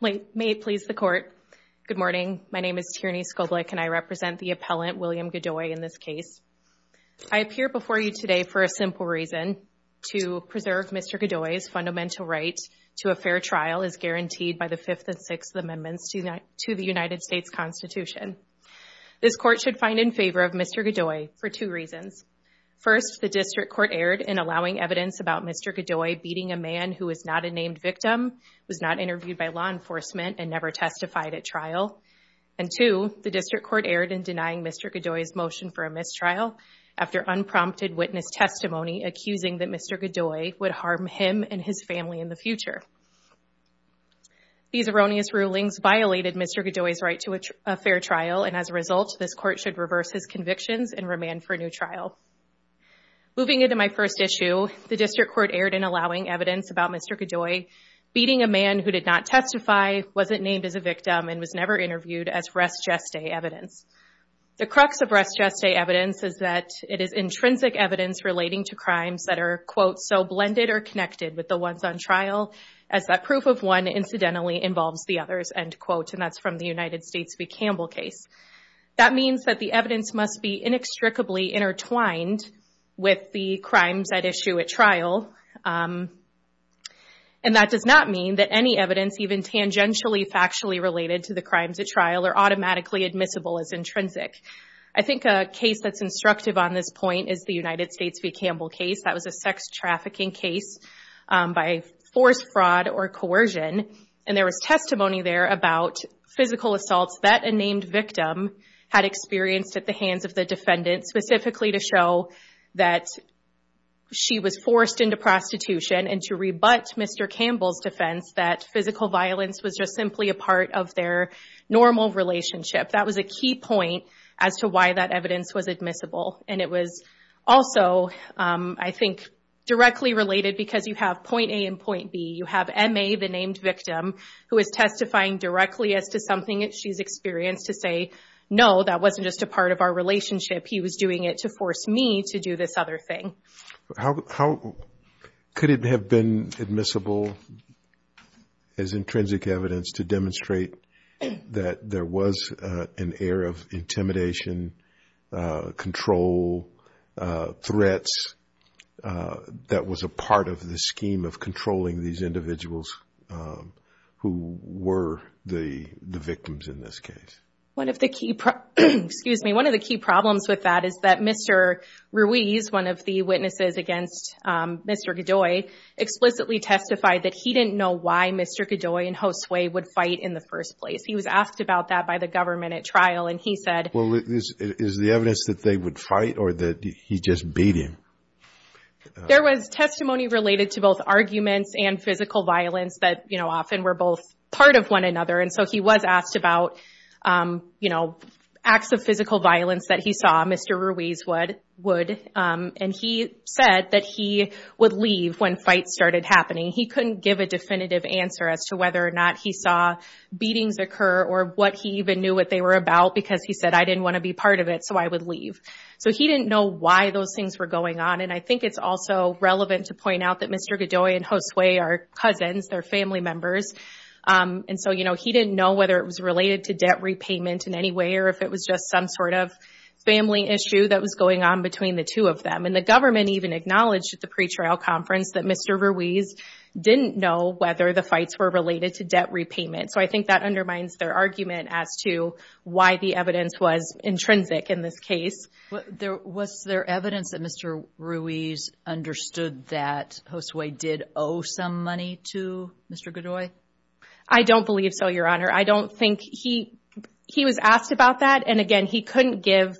May it please the court. Good morning. My name is Tierney Skoblik and I represent the appellant William Godoy in this case. I appear before you today for a simple reason. To preserve Mr. Godoy's fundamental right to a fair trial is guaranteed by the fifth and sixth amendments to the United States Constitution. This court should find in favor of Mr. Godoy for two reasons. First, the district court erred in allowing evidence about Mr. Godoy beating a man who is not a named victim, was not interviewed by law enforcement, and never testified at trial. And two, the district court erred in denying Mr. Godoy's motion for a mistrial after unprompted witness testimony accusing that Mr. Godoy would harm him and his family in the future. These erroneous rulings violated Mr. Godoy's right to a fair trial and as a result this court should reverse his convictions and remand for a new trial. Moving into my first issue, the district court erred in allowing evidence about Mr. Godoy beating a man who did not testify, wasn't named as a victim, and was never interviewed as res geste evidence. The crux of res geste evidence is that it is intrinsic evidence relating to crimes that are, quote, so blended or connected with the ones on trial as that proof of one incidentally involves the others, end quote, and that's from the United States v. Campbell case. That means that the evidence must be inextricably intertwined with the crimes at issue at trial and that does not mean that any evidence, even tangentially factually related to the crimes at trial, are automatically admissible as intrinsic. I think a case that's instructive on this point is the United States v. Campbell case. That was a sex trafficking case by forced fraud or coercion and there was testimony there about physical assaults that a named victim had experienced at the hands of the defendant specifically to show that she was forced into prostitution and to rebut Mr. Campbell's defense that physical violence was just simply a part of their normal relationship. That was a key point as to why that evidence was admissible and it was also, I think, directly related because you have point A and point B. You have MA, the named victim, who is testifying directly as to something that she's experienced to say, no, that wasn't just a part of our relationship. He was doing it to force me to do this other thing. How could it have been admissible as intrinsic evidence to demonstrate that there was an air of intimidation, control, threats that was a part of the scheme of controlling these individuals who were the victims in this case? One of the key problems with that is that Mr. Ruiz, one of the witnesses against Mr. Godoy, explicitly testified that he didn't know why Mr. Godoy and Josue would fight in the first place. He was asked about that by the government at trial and he said... Well, is the evidence that they would fight or that he just beat him? There was testimony related to both arguments and physical violence that, you know, often were both part of one another and so he was asked about, you know, acts of physical violence that he saw Mr. Ruiz would and he said that he would leave when fights started happening. He couldn't give a definitive answer as to whether or not he saw beatings occur or what he even knew what they were about because he said, I didn't want to be part of it so I would leave. So he didn't know why those things were going on and I think it's also relevant to point out that Mr. Godoy and Josue are cousins, they're family members and so, you know, he didn't know whether it was related to debt repayment in any way or if it was just some sort of family issue that was going on between the two of them and the government even acknowledged at the pretrial conference that Mr. Ruiz didn't know whether the fights were related to debt repayment. So I think that undermines their argument as to why the evidence was intrinsic in this case. Was there evidence that Mr. Ruiz understood that Josue did owe some money to Mr. Godoy? I don't believe so, Your Honor. I don't think he was asked about that and again, he couldn't give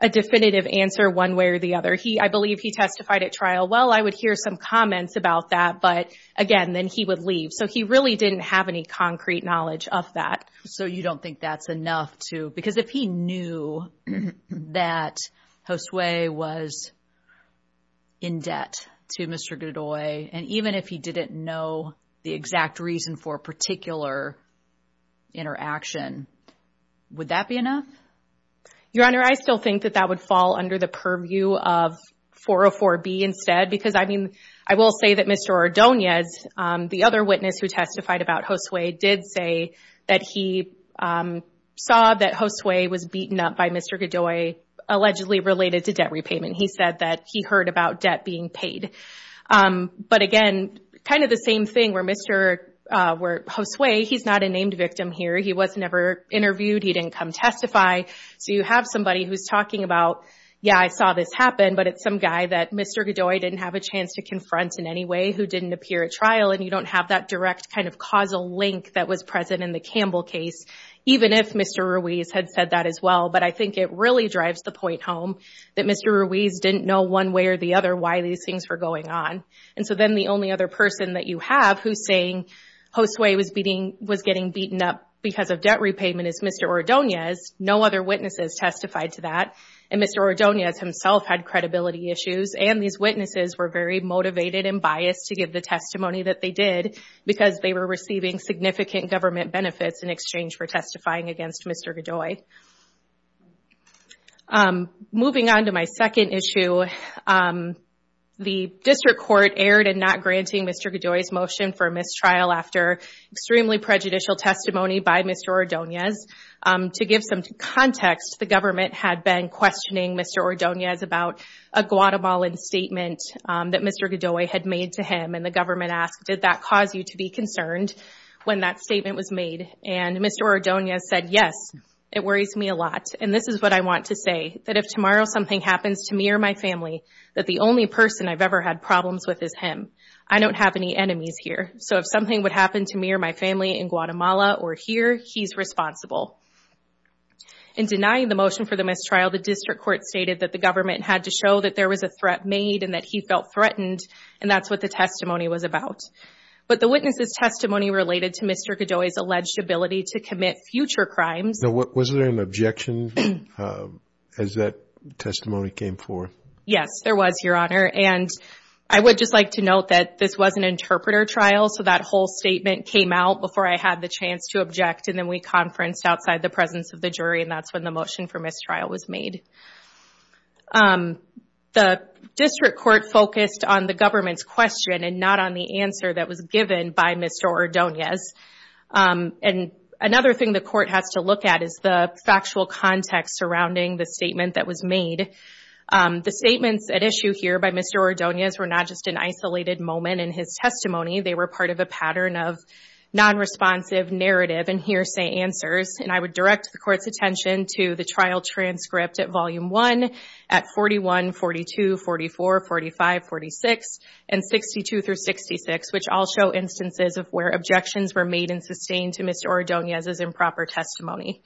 a definitive answer one way or the other. I believe he testified at trial, I would hear some comments about that, but again, then he would leave. So he really didn't have any concrete knowledge of that. So you don't think that's enough to, because if he knew that Josue was in debt to Mr. Godoy and even if he didn't know the exact reason for a particular interaction, would that be enough? Your Honor, I still think that that would fall under the purview of 404B instead because I will say that Mr. Ordonez, the other witness who testified about Josue, did say that he saw that Josue was beaten up by Mr. Godoy, allegedly related to debt repayment. He said that he heard about debt being paid. But again, kind of the same thing where Josue, he's not a named victim here. He was never talking about, yeah, I saw this happen, but it's some guy that Mr. Godoy didn't have a chance to confront in any way who didn't appear at trial and you don't have that direct kind of causal link that was present in the Campbell case, even if Mr. Ruiz had said that as well. But I think it really drives the point home that Mr. Ruiz didn't know one way or the other why these things were going on. And so then the only other person that you have who's saying Josue was getting beaten up because of debt repayment is Mr. Ordonez. No other witnesses testified to that. And Mr. Ordonez himself had credibility issues. And these witnesses were very motivated and biased to give the testimony that they did because they were receiving significant government benefits in exchange for testifying against Mr. Godoy. Moving on to my second issue, the district court erred in not granting Mr. Godoy's motion for a mistrial after extremely prejudicial testimony by Mr. Ordonez. To give some context, the government had been questioning Mr. Ordonez about a Guatemalan statement that Mr. Godoy had made to him. And the government asked, did that cause you to be concerned when that statement was made? And Mr. Ordonez said, yes, it worries me a lot. And this is what I want to say, that if tomorrow something happens to me or my family, that the only person I've ever had problems with is him. I don't have any enemies here. So if something would happen to me or my family in Guatemala or here, he's responsible. In denying the motion for the mistrial, the district court stated that the government had to show that there was a threat made and that he felt threatened. And that's what the testimony was about. But the witness's testimony related to Mr. Godoy's alleged ability to commit future crimes. Now, was there an objection as that testimony came forward? Yes, there was, Your Honor. And I would just like to note that this was an interpreter trial. So that whole statement came out before I had the chance to object. And then we conferenced outside the presence of the jury. And that's when the motion for mistrial was made. The district court focused on the government's question and not on the answer that was given by Mr. Ordonez. And another thing the court has to look at is the factual context surrounding the statement that was made. The statements at issue here by Mr. Ordonez were not just an isolated moment in his testimony. They were part of a pattern of non-responsive narrative and hearsay answers. And I would direct the court's attention to the trial transcript at Volume 1 at 41, 42, 44, 45, 46, and 62 through 66, which all show instances of where objections were made and sustained to Mr. Ordonez's improper testimony.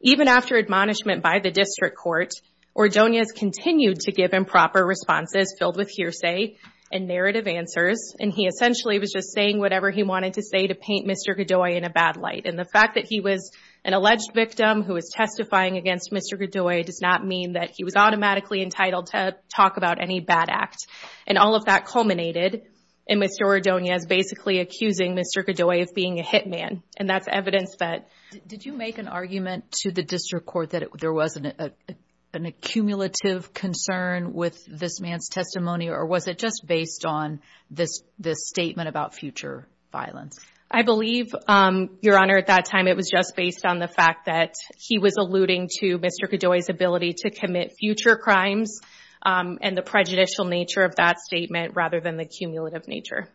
Even after admonishment by the district court, Ordonez continued to give improper responses filled with hearsay and narrative answers. And he essentially was just saying whatever he wanted to say to paint Mr. Godoy in a bad light. And the fact that he was an alleged victim who was testifying against Mr. Godoy does not mean that he was automatically entitled to talk about any bad act. And all of that culminated in Mr. Ordonez basically accusing Mr. Godoy of being a hitman. And that's evidence that... Did you make an argument to the district court that there was an accumulative concern with this man's testimony? Or was it just based on this statement about future violence? I believe, Your Honor, at that time it was just based on the fact that he was alluding to Mr. Godoy's ability to commit future crimes and the prejudicial nature of that statement rather than the cumulative nature.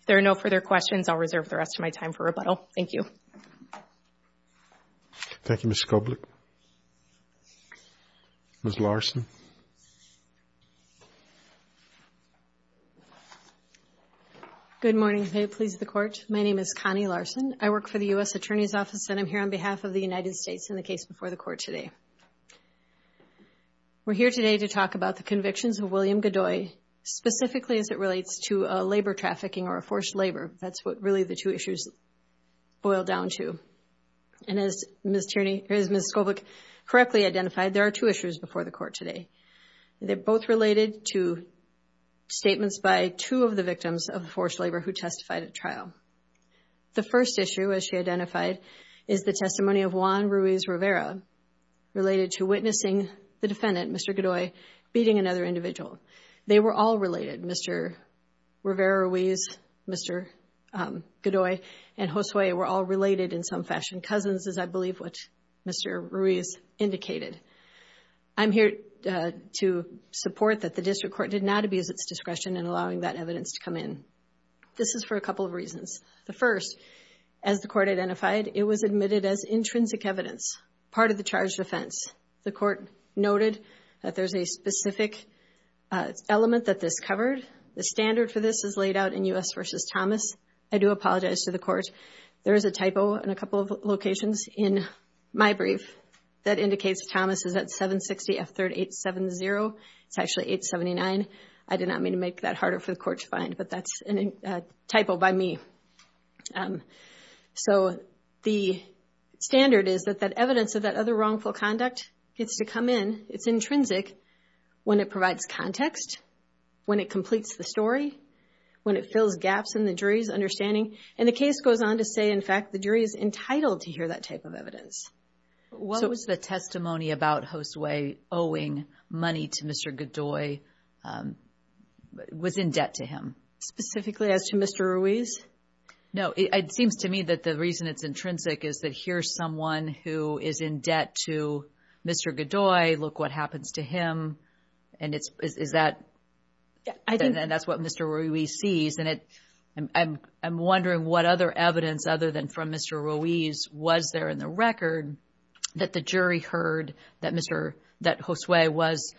If there are no further questions, I'll reserve the rest of my time for questions. Thank you, Ms. Skoblik. Ms. Larson. Good morning. May it please the Court. My name is Connie Larson. I work for the U.S. Attorney's Office and I'm here on behalf of the United States in the case before the Court today. We're here today to talk about the convictions of William Godoy, specifically as it relates to labor trafficking or forced labor. That's what really the two issues boil down to. And as Ms. Skoblik correctly identified, there are two issues before the Court today. They're both related to statements by two of the victims of forced labor who testified at trial. The first issue, as she identified, is the testimony of Juan Ruiz Rivera related to witnessing the defendant, Mr. Godoy, beating another individual. They were all related, Mr. Rivera, Ruiz, Mr. Godoy, and Josue were all related in some fashion. Cousins is, I believe, what Mr. Ruiz indicated. I'm here to support that the District Court did not abuse its discretion in allowing that evidence to come in. This is for a couple of reasons. The first, as the Court identified, it was admitted as intrinsic evidence, part of the charge of offense. The Court noted that there's a specific element that this covered. The standard for this is laid out in U.S. v. Thomas. I do apologize to the Court. There is a typo in a couple of locations in my brief that indicates Thomas is at 760 F3rd 870. It's actually 879. I did not mean to make that harder for the Court to find, but that's a typo by me. So the standard is that that evidence of that other wrongful conduct gets to come in. It's intrinsic when it provides context, when it completes the story, when it fills gaps in the jury's understanding, and the case goes on to say, in fact, the jury is entitled to hear that type of evidence. What was the testimony about Josue owing money to Mr. Godoy was in debt to him? Specifically as to Mr. Ruiz? No, it seems to me that the reason it's intrinsic is that here's someone who is in debt to Mr. Godoy. Look what happens to him. And that's what Mr. Ruiz sees. And I'm wondering what other evidence other than from Mr. Ruiz was there in the record that the jury heard that Josue was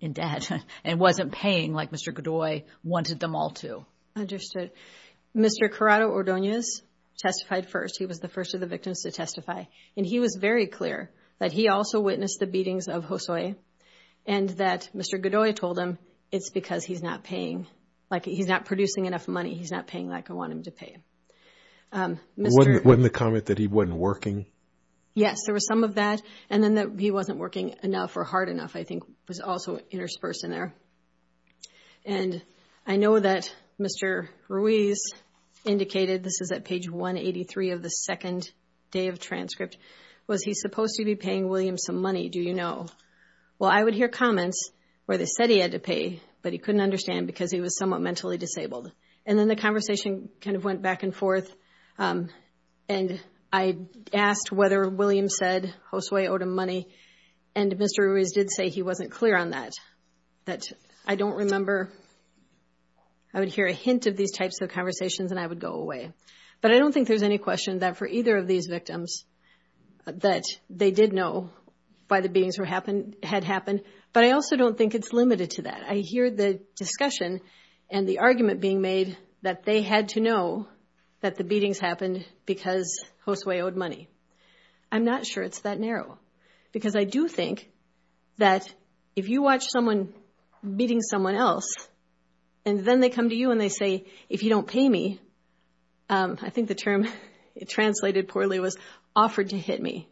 in debt and wasn't paying like Mr. Godoy wanted them all to? Understood. Mr. Corrado-Ordonez testified first. He was the first of the victims to testify. And he was very clear that he also witnessed the beatings of Josue and that Mr. Godoy told him it's because he's not producing enough money. He's not paying like I want him to pay. Wasn't the comment that he wasn't working? Yes, there was some of that. And then that he wasn't working enough or hard enough, I think was also interspersed in there. And I know that Mr. Ruiz indicated, this is at page 183 of the second day of transcript, was he supposed to be paying William some money? Do you know? Well, I would hear comments where they said he had to pay, but he couldn't understand because he was somewhat mentally disabled. And then the conversation kind back and forth. And I asked whether William said Josue owed him money. And Mr. Ruiz did say he wasn't clear on that. That I don't remember. I would hear a hint of these types of conversations and I would go away. But I don't think there's any question that for either of these victims that they did know why the beatings had happened. But I also don't think it's limited to that. I hear the discussion and the argument being made that they had to know that the beatings happened because Josue owed money. I'm not sure it's that narrow. Because I do think that if you watch someone beating someone else, and then they come to you and they say, if you don't pay me, I think the term translated poorly was offered to hit me,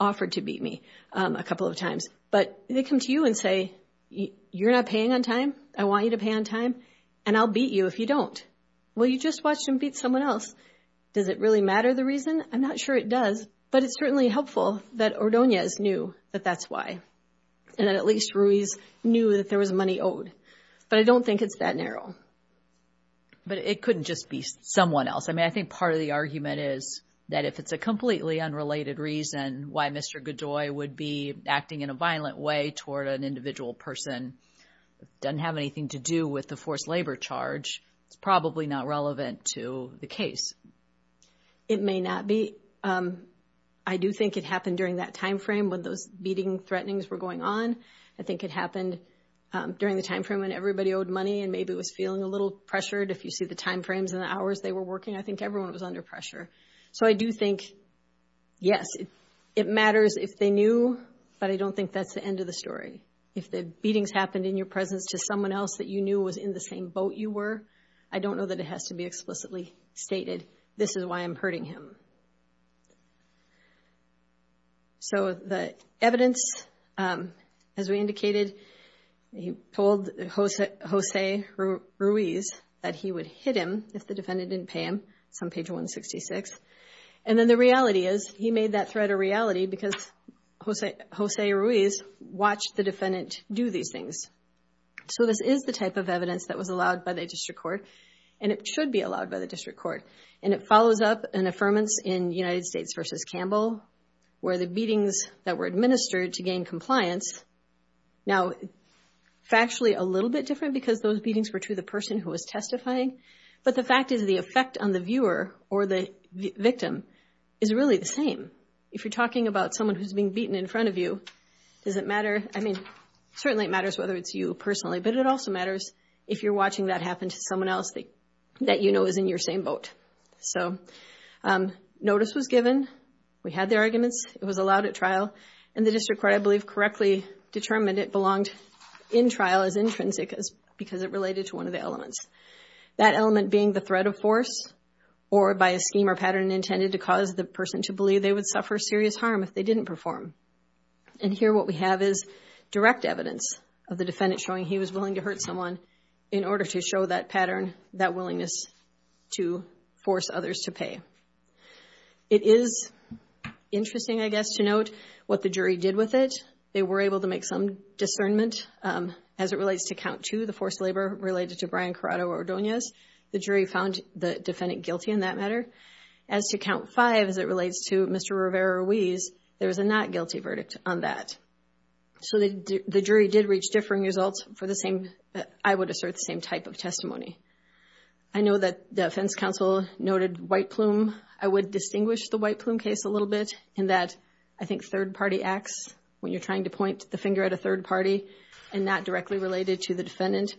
offered to beat me a couple of times. But they come to you and say, you're not paying on time. I want you to pay on time. And I'll beat you if you don't. Well, you just watched him beat someone else. Does it really matter the reason? I'm not sure it does. But it's certainly helpful that Ordonez knew that that's why. And that at least Ruiz knew that there was money owed. But I don't think it's that narrow. But it couldn't just be someone else. I mean, I think part of the argument is that if it's a completely unrelated reason why Mr. Godoy would be acting in a violent way toward an individual person that doesn't have anything to do with the forced labor charge, it's probably not relevant to the case. It may not be. I do think it happened during that time frame when those beating threatenings were going on. I think it happened during the time frame when everybody owed money and maybe was feeling a little pressured. If you see the time frames and the hours they were working, I think everyone was under pressure. So I do think, yes, it matters if they knew. But I don't think that's the end of the story. If the beatings happened in your presence to someone else that you knew was in the same boat you were, I don't know that it has to be explicitly stated. This is why I'm hurting him. So the evidence, as we indicated, he told Jose Ruiz that he would hit him if the defendant didn't pay him. It's on page 166. And then the reality is he made that threat a reality because Jose Ruiz watched the defendant do these things. So this is the type of evidence that was allowed by the district court and it should be allowed by the district court. And it follows up an affirmance in United States v. Campbell where the beatings that were administered to gain compliance now factually a little bit different because those beatings were to the person who was testifying. But the fact is the effect on the viewer or the victim is really the same. If you're talking about someone who's being beaten in front of you, does it matter? I mean, certainly it matters whether it's you personally, but it also matters if you're watching that happen to someone else that you know is in your same boat. So notice was given. We had the arguments. It was allowed at trial. And the district court, I believe, correctly determined it belonged in trial as intrinsic because it related to one of the elements. That element being the threat of force or by a scheme or pattern intended to cause the person to believe they would suffer serious harm if they didn't perform. And here what we have is direct evidence of the defendant showing he was willing to hurt someone in order to show that pattern, that willingness to force others to pay. It is interesting, I guess, to note what the jury did with it. They were able to make some discernment as it relates to count two, the forced labor related to Brian Corrado Ordonez. The jury found the defendant guilty in that matter. As to count five, as it relates to Mr. Rivera Ruiz, there was a not guilty verdict on that. So the jury did reach differing results for the same, I would assert, same type of testimony. I know that the defense counsel noted white plume. I would distinguish the white plume case a little bit in that I think third acts, when you're trying to point the finger at a third party and not directly related to the defendant,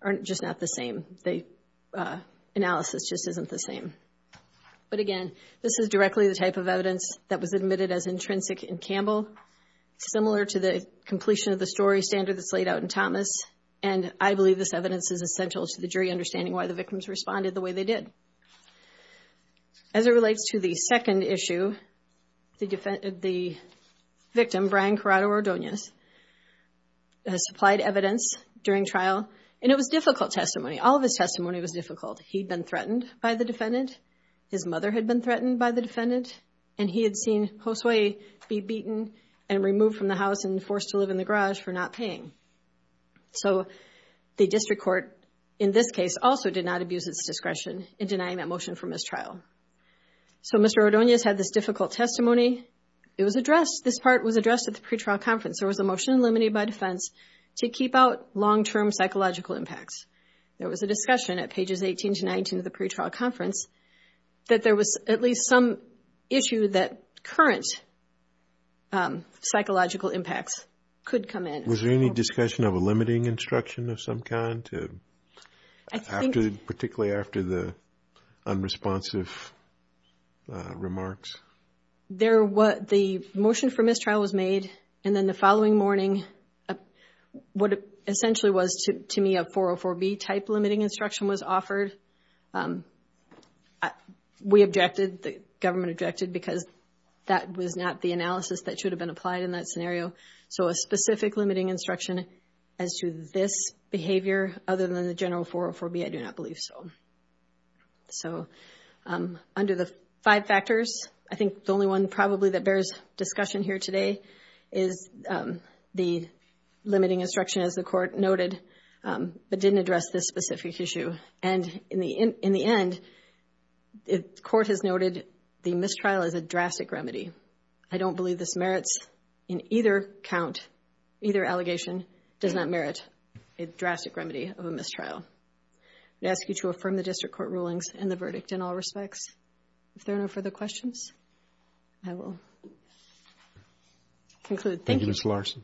aren't just not the same. The analysis just isn't the same. But again, this is directly the type of evidence that was admitted as intrinsic in Campbell, similar to the completion of the story standard that's laid out in Thomas. And I believe this evidence is essential to the jury understanding why the victims responded the way they did. As it relates to the second issue, the victim, Brian Corrado Ordonez, supplied evidence during trial. And it was difficult testimony. All of his testimony was difficult. He'd been threatened by the defendant. His mother had been threatened by the defendant. And he had seen Josue be beaten and removed from the house and forced to live in the garage for not paying. So the district court in this case also did not difficult testimony. This part was addressed at the pretrial conference. There was a motion eliminated by defense to keep out long-term psychological impacts. There was a discussion at pages 18 to 19 of the pretrial conference that there was at least some issue that current psychological impacts could come in. Was there any discussion of a limiting instruction of some kind to, particularly after the unresponsive remarks? The motion for mistrial was made. And then the following morning, what essentially was to me a 404B type limiting instruction was offered. We objected, the government objected, because that was not the analysis that should have been that scenario. So a specific limiting instruction as to this behavior other than the general 404B, I do not believe so. So under the five factors, I think the only one probably that bears discussion here today is the limiting instruction as the court noted, but didn't address this specific issue. And in the end, the court has noted the mistrial is a drastic remedy. I don't believe this merits in either count, either allegation does not merit a drastic remedy of a mistrial. I ask you to affirm the district court rulings and the verdict in all respects. If there are no further questions, I will conclude. Thank you, Ms. Larson.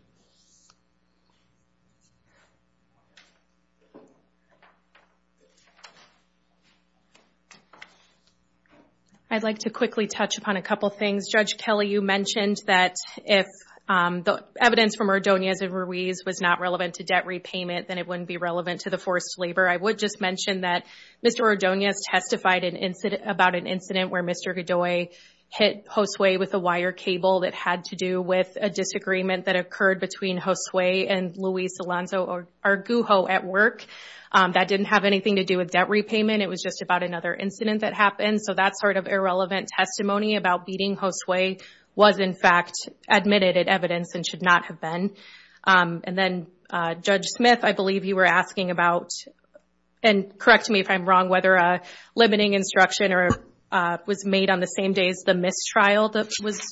I'd like to quickly touch upon a couple things. Judge Kelly, you mentioned that if the evidence from Ordonez and Ruiz was not relevant to debt repayment, then it wouldn't be relevant to the forced labor. I would just mention that Mr. Ordonez testified about an incident where Mr. Godoy hit Josue with a wire cable that had to do with a disagreement that occurred between Josue and Luis Alonso Argujo at work. That didn't have anything to do with debt repayment. It was just about another incident that happened. So that sort of irrelevant testimony about beating Josue was in fact admitted at evidence and should not have been. And then Judge Smith, I believe you were asking about, and correct me if I'm wrong, whether a limiting instruction was made on the same day as the mistrial that was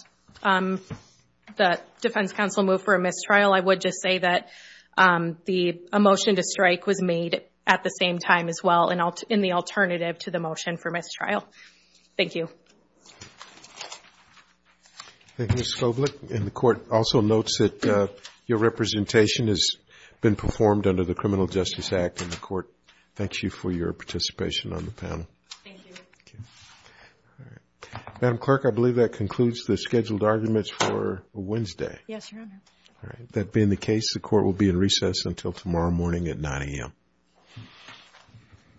the defense counsel move for a mistrial. I would just say that a motion to strike was made at the same time as well and in the alternative to the motion for mistrial. Thank you. Thank you, Ms. Koblich. And the court also notes that your representation has been performed under the Criminal Justice Act, and the court thanks you for your participation on the panel. Thank you. All right. Madam Clerk, I believe that concludes the scheduled arguments for Wednesday. Yes, Your Honor. All right. That being the case, the court will be in recess until tomorrow morning at 9 a.m.